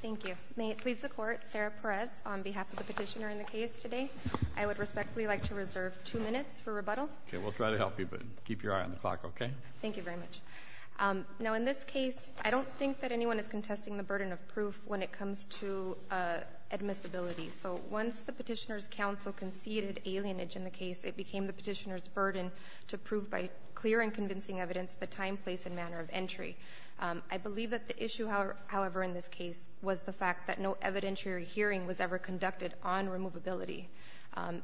Thank you. May it please the Court, Sarah Perez on behalf of the petitioner in the case today. I would respectfully like to reserve two minutes for rebuttal. Okay, we'll try to help you, but keep your eye on the clock, okay? Thank you very much. Now in this case, I don't think that anyone is contesting the burden of proof when it comes to admissibility. So once the petitioner's counsel conceded alienage in the case, it became the petitioner's burden to prove by clear and convincing evidence the time, place, and manner of entry. I believe that the issue, however, in this case was the fact that no evidentiary hearing was ever conducted on removability.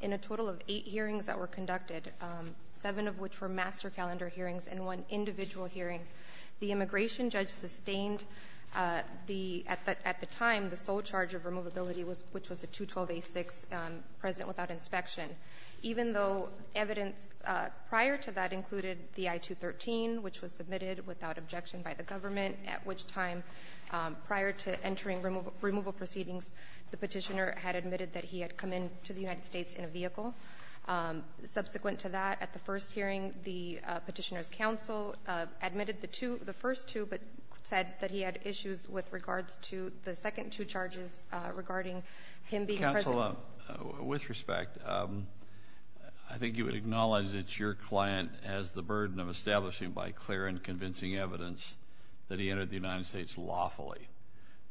In a total of eight hearings that were conducted, seven of which were master calendar hearings and one individual hearing, the immigration judge sustained, at the time, the sole charge of removability, which was a 212A6 present without inspection, even though evidence prior to that included the I-213, which was submitted without objection by the government, at which time, prior to entering removal proceedings, the petitioner had admitted that he had come into the United States in a vehicle. Subsequent to that, at the first hearing, the petitioner's counsel admitted the two, the first two, but said that he had issues with regards to the second two charges regarding him being present. Well, with respect, I think you would acknowledge that your client has the burden of establishing by clear and convincing evidence that he entered the United States lawfully.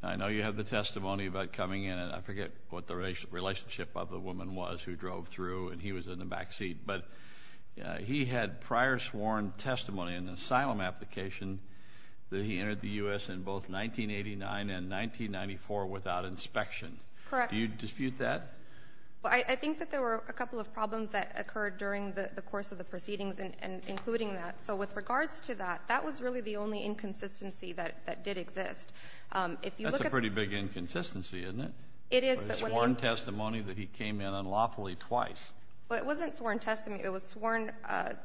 I know you have the testimony about coming in, and I forget what the relationship of the woman was who drove through, and he was in the back seat, but he had prior sworn testimony in an asylum application that he entered the U.S. in both 1989 and 1994 without inspection. Correct. Do you dispute that? Well, I think that there were a couple of problems that occurred during the course of the proceedings, including that. So with regards to that, that was really the only inconsistency that did exist. That's a pretty big inconsistency, isn't it? It is. A sworn testimony that he came in unlawfully twice. Well, it wasn't sworn testimony. It was sworn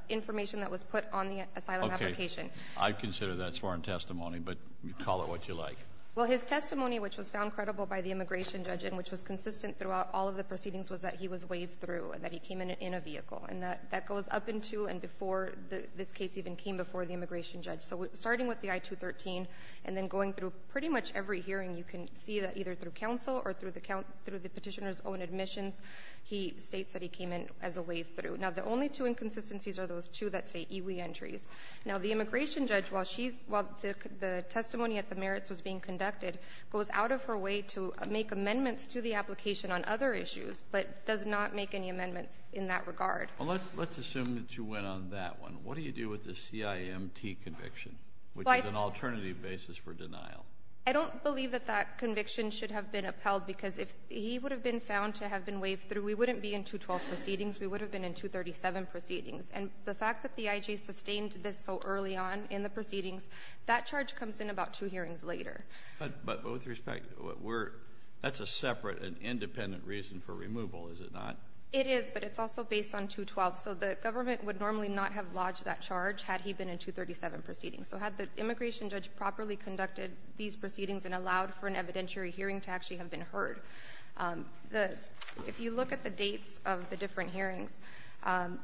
information that was put on the asylum application. Okay. I'd consider that sworn testimony, but call it what you like. Well, his testimony, which was found credible by the immigration judge and which was consistent throughout all of the proceedings, was that he was waved through and that he came in in a vehicle. And that goes up in two and before this case even came before the immigration judge. So starting with the I-213 and then going through pretty much every hearing, you can see that either through counsel or through the petitioner's own admissions, he states that he came in as a waved through. Now, the only two inconsistencies are those two that say EWE entries. Now, the immigration judge, while the testimony at the merits was being conducted, goes out of her way to make amendments to the application on other issues, but does not make any amendments in that regard. Well, let's assume that you went on that one. What do you do with the CIMT conviction, which is an alternative basis for denial? I don't believe that that conviction should have been upheld, because if he would have been found to have been waved through, we wouldn't be in 212 proceedings. We would have been in 237 proceedings. And the fact that the IJ sustained this so early on in the proceedings, that charge comes in about two hearings later. But with respect, that's a separate and independent reason for removal, is it not? It is, but it's also based on 212. So the government would normally not have lodged that charge had he been in 237 proceedings. So had the immigration judge properly conducted these proceedings and allowed for an evidentiary hearing to actually have been heard. If you look at the dates of the different hearings,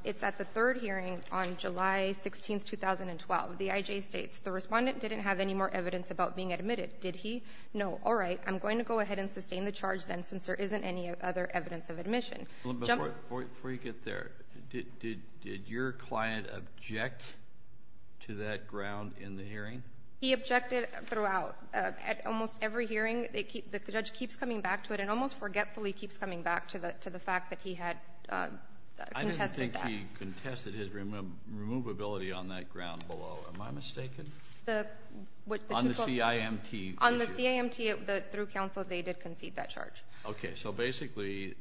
it's at the third hearing on July 16, 2012. The IJ states, the Respondent didn't have any more evidence about being admitted, did he? No. All right. I'm going to go ahead and sustain the charge then, since there isn't any other evidence of admission. Before you get there, did your client object to that ground in the hearing? He objected throughout. At almost every hearing, the judge keeps coming back to it and almost forgetfully keeps coming back to the fact that he had contested that. I didn't think he contested his removability on that ground below. Am I mistaken? On the CIMT. On the CIMT, through counsel, they did concede that charge. Okay. So basically,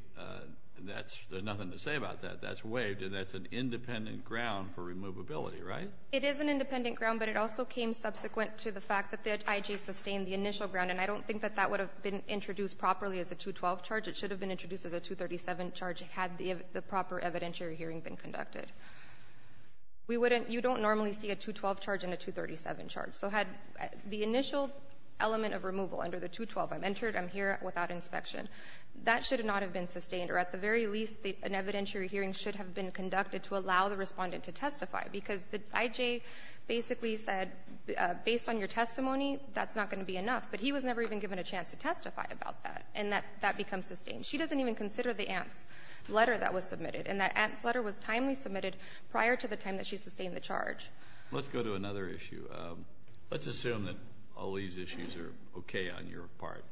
there's nothing to say about that. That's waived, and that's an independent ground for removability, right? It is an independent ground, but it also came subsequent to the fact that the IJ sustained the initial ground. And I don't think that that would have been introduced properly as a 212 charge. It should have been introduced as a 237 charge had the proper evidentiary hearing been conducted. We wouldn't – you don't normally see a 212 charge and a 237 charge. So had the initial element of removal under the 212, I'm entered, I'm here without inspection, that should not have been sustained. Or at the very least, an evidentiary hearing should have been conducted to allow the IJ basically said, based on your testimony, that's not going to be enough. But he was never even given a chance to testify about that. And that becomes sustained. She doesn't even consider the ANTS letter that was submitted. And that ANTS letter was timely submitted prior to the time that she sustained the charge. Let's go to another issue. Let's assume that all these issues are okay on your part.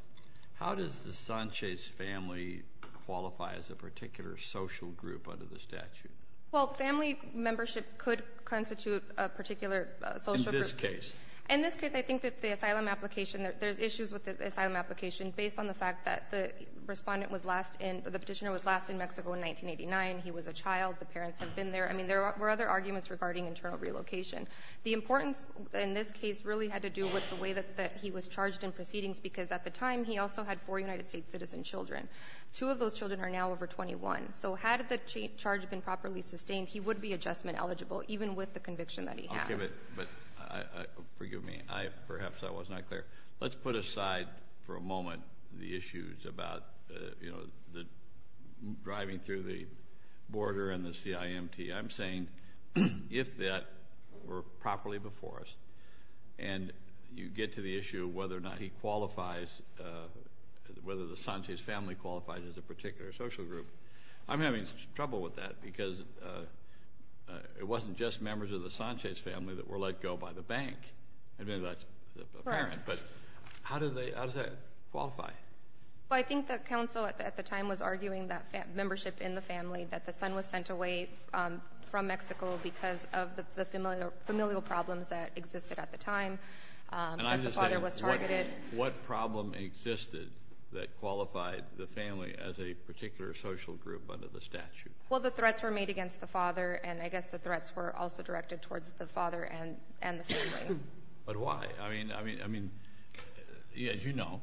How does the Sanchez family qualify as a particular social group under the statute? Well, family membership could constitute a particular social group. In this case. In this case, I think that the asylum application – there's issues with the asylum application based on the fact that the Respondent was last in – the Petitioner was last in Mexico in 1989. He was a child. The parents had been there. I mean, there were other arguments regarding internal relocation. The importance in this case really had to do with the way that he was charged in proceedings, because at the time he also had four United States citizen children. Two of those children are now over 21. So had the charge been properly sustained, he would be adjustment eligible, even with the conviction that he has. I'll give it. But forgive me. Perhaps I was not clear. Let's put aside for a moment the issues about, you know, the – driving through the border and the CIMT. I'm saying if that were properly before us and you get to the issue of whether or not he qualifies – whether the Sanchez family qualifies as a particular social group. I'm having trouble with that because it wasn't just members of the Sanchez family that were let go by the bank. I mean, that's apparent. Right. But how do they – how does that qualify? Well, I think that counsel at the time was arguing that membership in the family, that the son was sent away from Mexico because of the familial problems that existed at the time. But the father was targeted. And I'm just saying, what problem existed that qualified the family as a particular social group under the statute? Well, the threats were made against the father, and I guess the threats were also directed towards the father and the family. But why? I mean, as you know,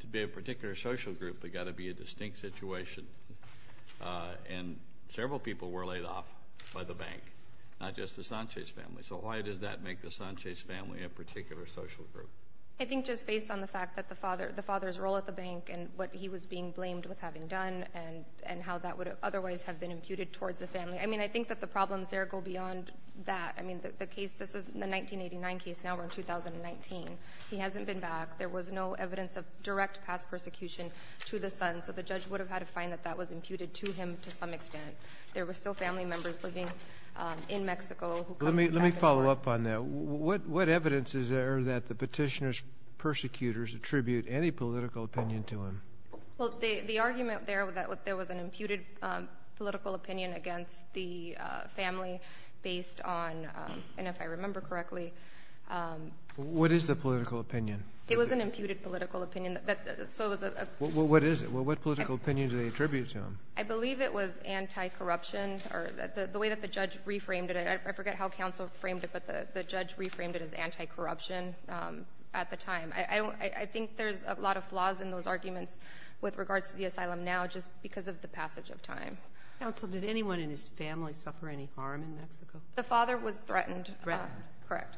to be a particular social group, they've got to be a distinct situation. And several people were laid off by the bank, not just the Sanchez family. So why does that make the Sanchez family a particular social group? I think just based on the fact that the father's role at the bank and what he was being blamed with having done and how that would otherwise have been imputed towards the family. I mean, I think that the problems there go beyond that. I mean, the case – this is the 1989 case. Now we're in 2019. He hasn't been back. There was no evidence of direct past persecution to the son, so the judge would have had to find that that was imputed to him to some extent. There were still family members living in Mexico who come from Mexico. Let me follow up on that. What evidence is there that the petitioner's persecutors attribute any political opinion to him? Well, the argument there that there was an imputed political opinion against the family based on – and if I remember correctly. What is the political opinion? It was an imputed political opinion. What is it? What political opinion do they attribute to him? I believe it was anti-corruption or the way that the judge reframed it. I forget how counsel framed it, but the judge reframed it as anti-corruption at the time. I don't – I think there's a lot of flaws in those arguments with regards to the asylum now just because of the passage of time. Counsel, did anyone in his family suffer any harm in Mexico? The father was threatened. Threatened. Correct.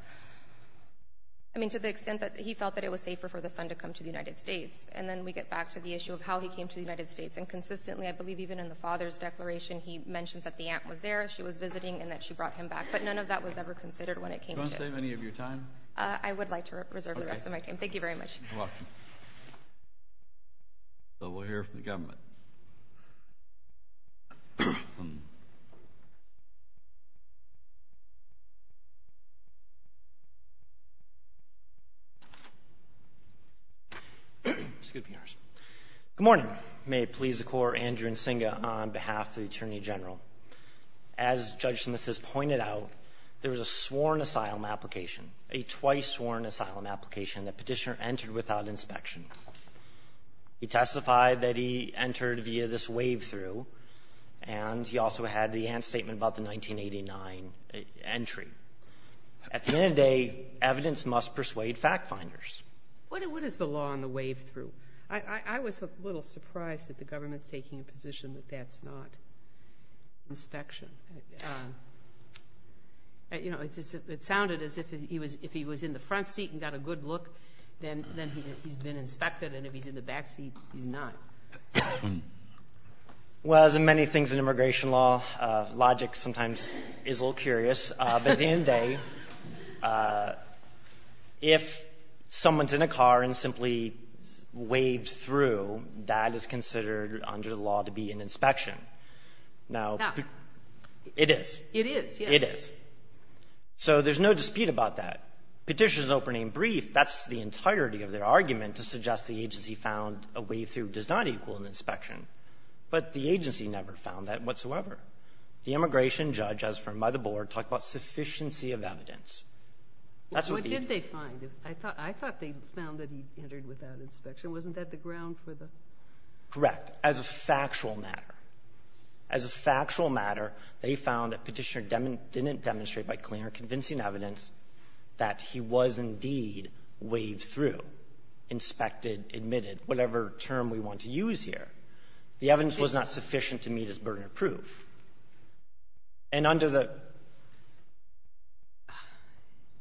I mean, to the extent that he felt that it was safer for the son to come to the United States. And then we get back to the issue of how he came to the United States. And consistently, I believe even in the father's declaration, he mentions that the aunt was there, she was visiting, and that she brought him back. But none of that was ever considered when it came to – Do you want to save any of your time? I would like to reserve the rest of my time. Thank you very much. You're welcome. So we'll hear from the government. Good morning. May it please the Court. Andrew Nsinga on behalf of the Attorney General. As Judge Smith has pointed out, there was a sworn asylum application, a twice-sworn asylum application that Petitioner entered without inspection. He testified that he entered via this wave-through, and he also had the aunt's statement about the 1989 entry. At the end of the day, evidence must persuade fact-finders. What is the law on the wave-through? I was a little surprised that the government's taking a position that that's not inspection. It sounded as if he was in the front seat and got a good look, then he's been inspected, and if he's in the back seat, he's not. Well, as in many things in immigration law, logic sometimes is a little curious. But at the end of the day, if someone's in a car and simply waved through, that is considered under the law to be an inspection. Now, it is. It is, yes. It is. So there's no dispute about that. Petitioner's opening brief, that's the entirety of their argument to suggest the agency found a wave-through does not equal an inspection. But the agency never found that whatsoever. The immigration judge, as from by the Board, talked about sufficiency of evidence. That's what the agency found. What did they find? I thought they found that he entered without inspection. Wasn't that the ground for the ---- Correct. As a factual matter, as a factual matter, they found that Petitioner didn't demonstrate by clear and convincing evidence that he was indeed waved through, inspected, admitted, whatever term we want to use here. The evidence was not sufficient to meet his burden of proof. And under the ----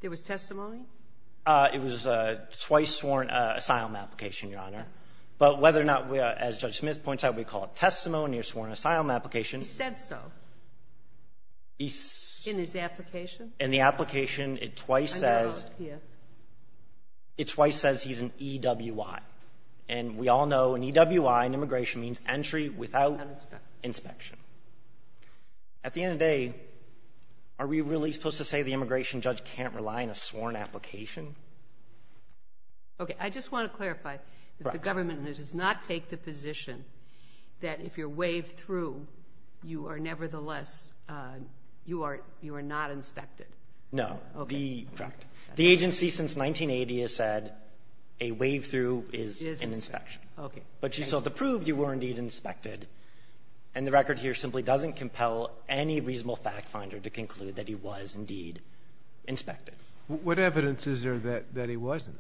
There was testimony? It was a twice-sworn asylum application, Your Honor. But whether or not, as Judge Smith points out, we call it testimony or sworn asylum application ---- He said so. In his application? In the application, it twice says ---- I know. It twice says he's an EWI. And we all know an EWI in immigration means entry without inspection. At the end of the day, are we really supposed to say the immigration judge can't rely on a sworn application? Okay. I just want to clarify that the government does not take the position that if you're waved through, you are nevertheless you are not inspected. No. Okay. Correct. The agency since 1980 has said a waved through is an inspection. Okay. But you still have to prove you were indeed inspected. And the record here simply doesn't compel any reasonable fact finder to conclude that he was indeed inspected. What evidence is there that he wasn't?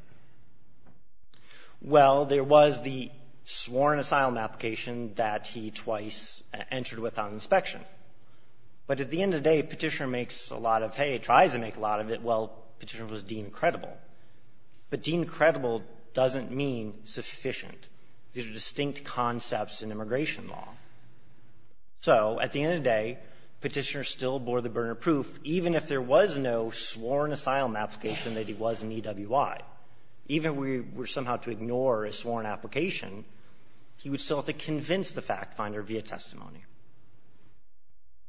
Well, there was the sworn asylum application that he twice entered without inspection. But at the end of the day, Petitioner makes a lot of, hey, tries to make a lot of it. Well, Petitioner was deemed credible. But deemed credible doesn't mean sufficient. These are distinct concepts in immigration law. So at the end of the day, Petitioner still bore the burner proof, even if there was no sworn asylum application that he was an EWI. Even if we were somehow to ignore a sworn application, he would still have to convince the fact finder via testimony.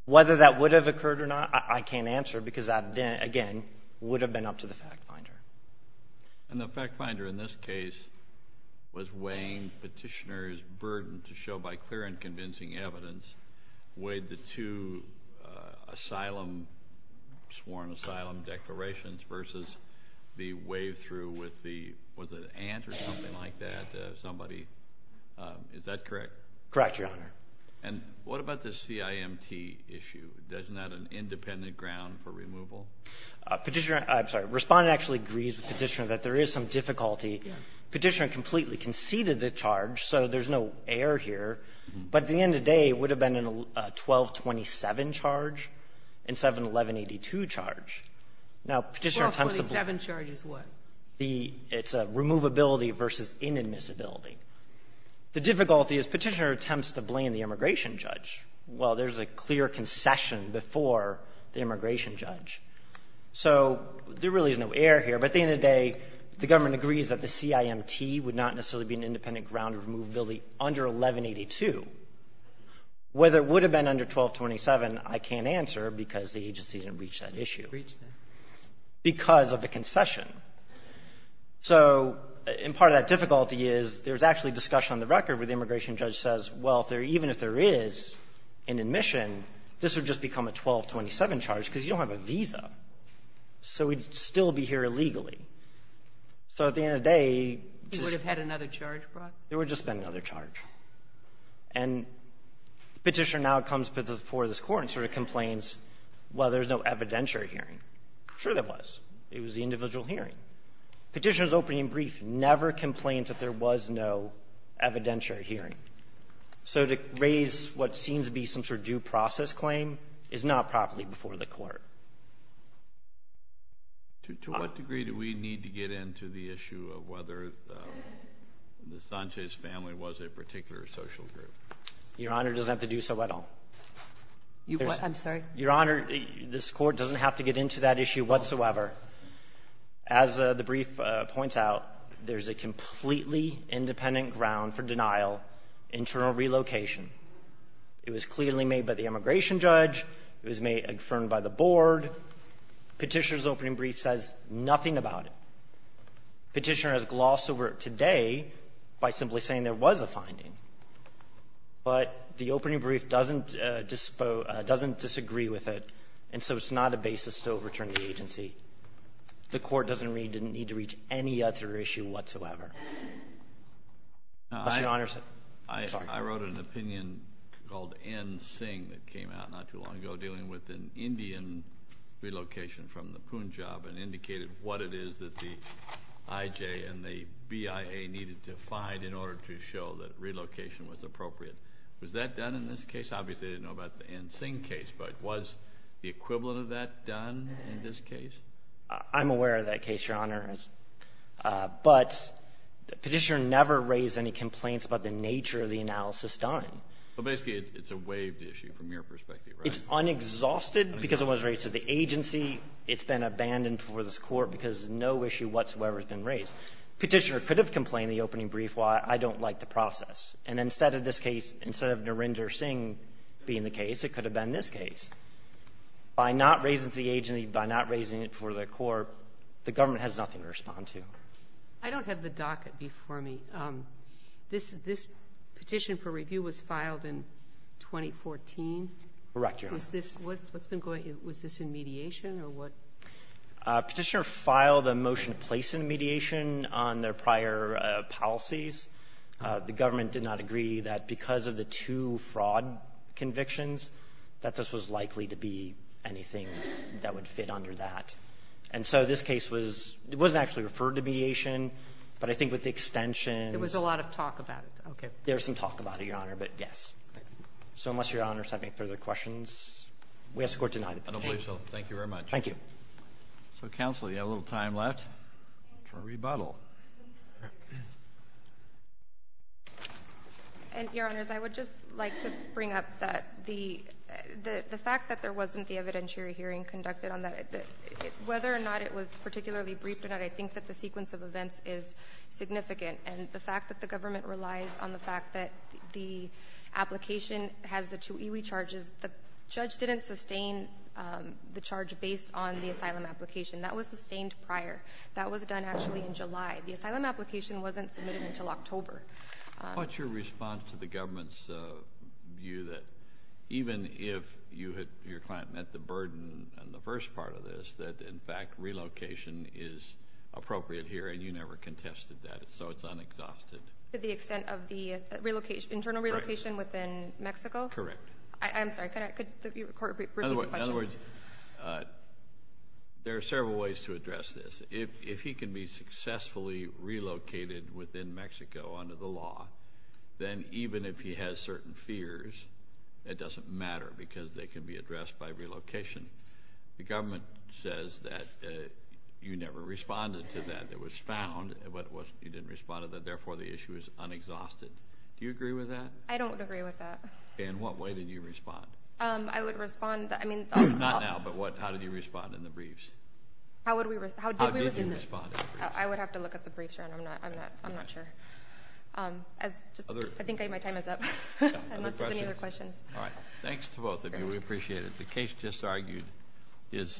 Whether that would have occurred or not, I can't answer because that, again, would have been up to the fact finder. And the fact finder in this case was weighing Petitioner's burden to show by clear and convincing evidence weighed the two asylum, sworn asylum declarations versus the waved through with the, was it an ant or something like that, somebody? Is that correct? Correct, Your Honor. And what about the CIMT issue? Isn't that an independent ground for removal? Petitioner — I'm sorry. Respondent actually agrees with Petitioner that there is some difficulty. Petitioner completely conceded the charge, so there's no error here. But at the end of the day, it would have been a 1227 charge and 71182 charge. Now, Petitioner attempts to — 1227 charge is what? It's a removability versus inadmissibility. The difficulty is Petitioner attempts to blame the immigration judge. Well, there's a clear concession before the immigration judge. So there really is no error here. But at the end of the day, the government agrees that the CIMT would not necessarily be an independent ground of removability under 1182. Whether it would have been under 1227, I can't answer because the agency didn't reach that issue. Because of the concession. So — and part of that difficulty is there's actually discussion on the record where the immigration judge says, well, even if there is an admission, this would just become a 1227 charge because you don't have a visa. So we'd still be here illegally. So at the end of the day, just — You would have had another charge brought? There would have just been another charge. And Petitioner now comes before this Court and sort of complains, well, there's no evidentiary hearing. Sure there was. It was the individual hearing. Petitioner's opening brief never complains that there was no evidentiary hearing. So to raise what seems to be some sort of due process claim is not properly before the Court. To what degree do we need to get into the issue of whether the Sanchez family was a particular social group? Your Honor, it doesn't have to do so at all. I'm sorry? Your Honor, this Court doesn't have to get into that issue whatsoever. As the brief points out, there's a completely independent ground for denial, internal relocation. It was clearly made by the immigration judge. It was made and confirmed by the board. Petitioner's opening brief says nothing about it. Petitioner has glossed over it today by simply saying there was a finding. But the opening brief doesn't disagree with it, and so it's not a basis to overturn the agency. The Court doesn't need to reach any other issue whatsoever. Unless, Your Honor, I'm sorry. I wrote an opinion called N. Singh that came out not too long ago dealing with an Indian relocation from the Punjab and indicated what it is that the IJ and the BIA needed to find in order to show that relocation was appropriate. Was that done in this case? Obviously, they didn't know about the N. Singh case. But was the equivalent of that done in this case? I'm aware of that case, Your Honor. But Petitioner never raised any complaints about the nature of the analysis done. Well, basically, it's a waived issue from your perspective, right? It's unexhausted because it was raised to the agency. It's been abandoned before this Court because no issue whatsoever has been raised. Petitioner could have complained in the opening brief, why I don't like the process. And instead of this case, instead of Narendra Singh being the case, it could have been this case. By not raising it to the agency, by not raising it for the Court, the government has nothing to respond to. I don't have the docket before me. This petition for review was filed in 2014. Correct, Your Honor. Is this what's been going to you? Was this in mediation or what? Petitioner filed a motion to place it in mediation on their prior policies. The government did not agree that because of the two fraud convictions that this was likely to be anything that would fit under that. And so this case was — it wasn't actually referred to mediation, but I think with the extensions — It was a lot of talk about it. Okay. There was some talk about it, Your Honor, but yes. So unless Your Honor has any further questions, we ask the Court to deny the petition. I don't believe so. Thank you very much. Thank you. So, counsel, you have a little time left for rebuttal. And, Your Honors, I would just like to bring up that the fact that there wasn't the evidentiary hearing conducted on that, whether or not it was particularly briefed or not, I think that the sequence of events is significant. And the fact that the government relies on the fact that the application has the two EWE charges, the judge didn't sustain the charge based on the asylum application. That was sustained prior. That was done actually in July. The asylum application wasn't submitted until October. What's your response to the government's view that even if your client met the burden in the first part of this, that, in fact, relocation is appropriate here, and you never contested that, so it's unexhausted? To the extent of the internal relocation within Mexico? Correct. I'm sorry. Could the Court repeat the question? In other words, there are several ways to address this. If he can be successfully relocated within Mexico under the law, then even if he has certain fears, it doesn't matter because they can be addressed by relocation. The government says that you never responded to that. It was found that you didn't respond to that. Therefore, the issue is unexhausted. Do you agree with that? I don't agree with that. In what way did you respond? I would respond. Not now, but how did you respond in the briefs? How did we respond? I would have to look at the briefs. I'm not sure. I think my time is up, unless there's any other questions. All right. Thanks to both of you. We appreciate it. The case just argued is submitted.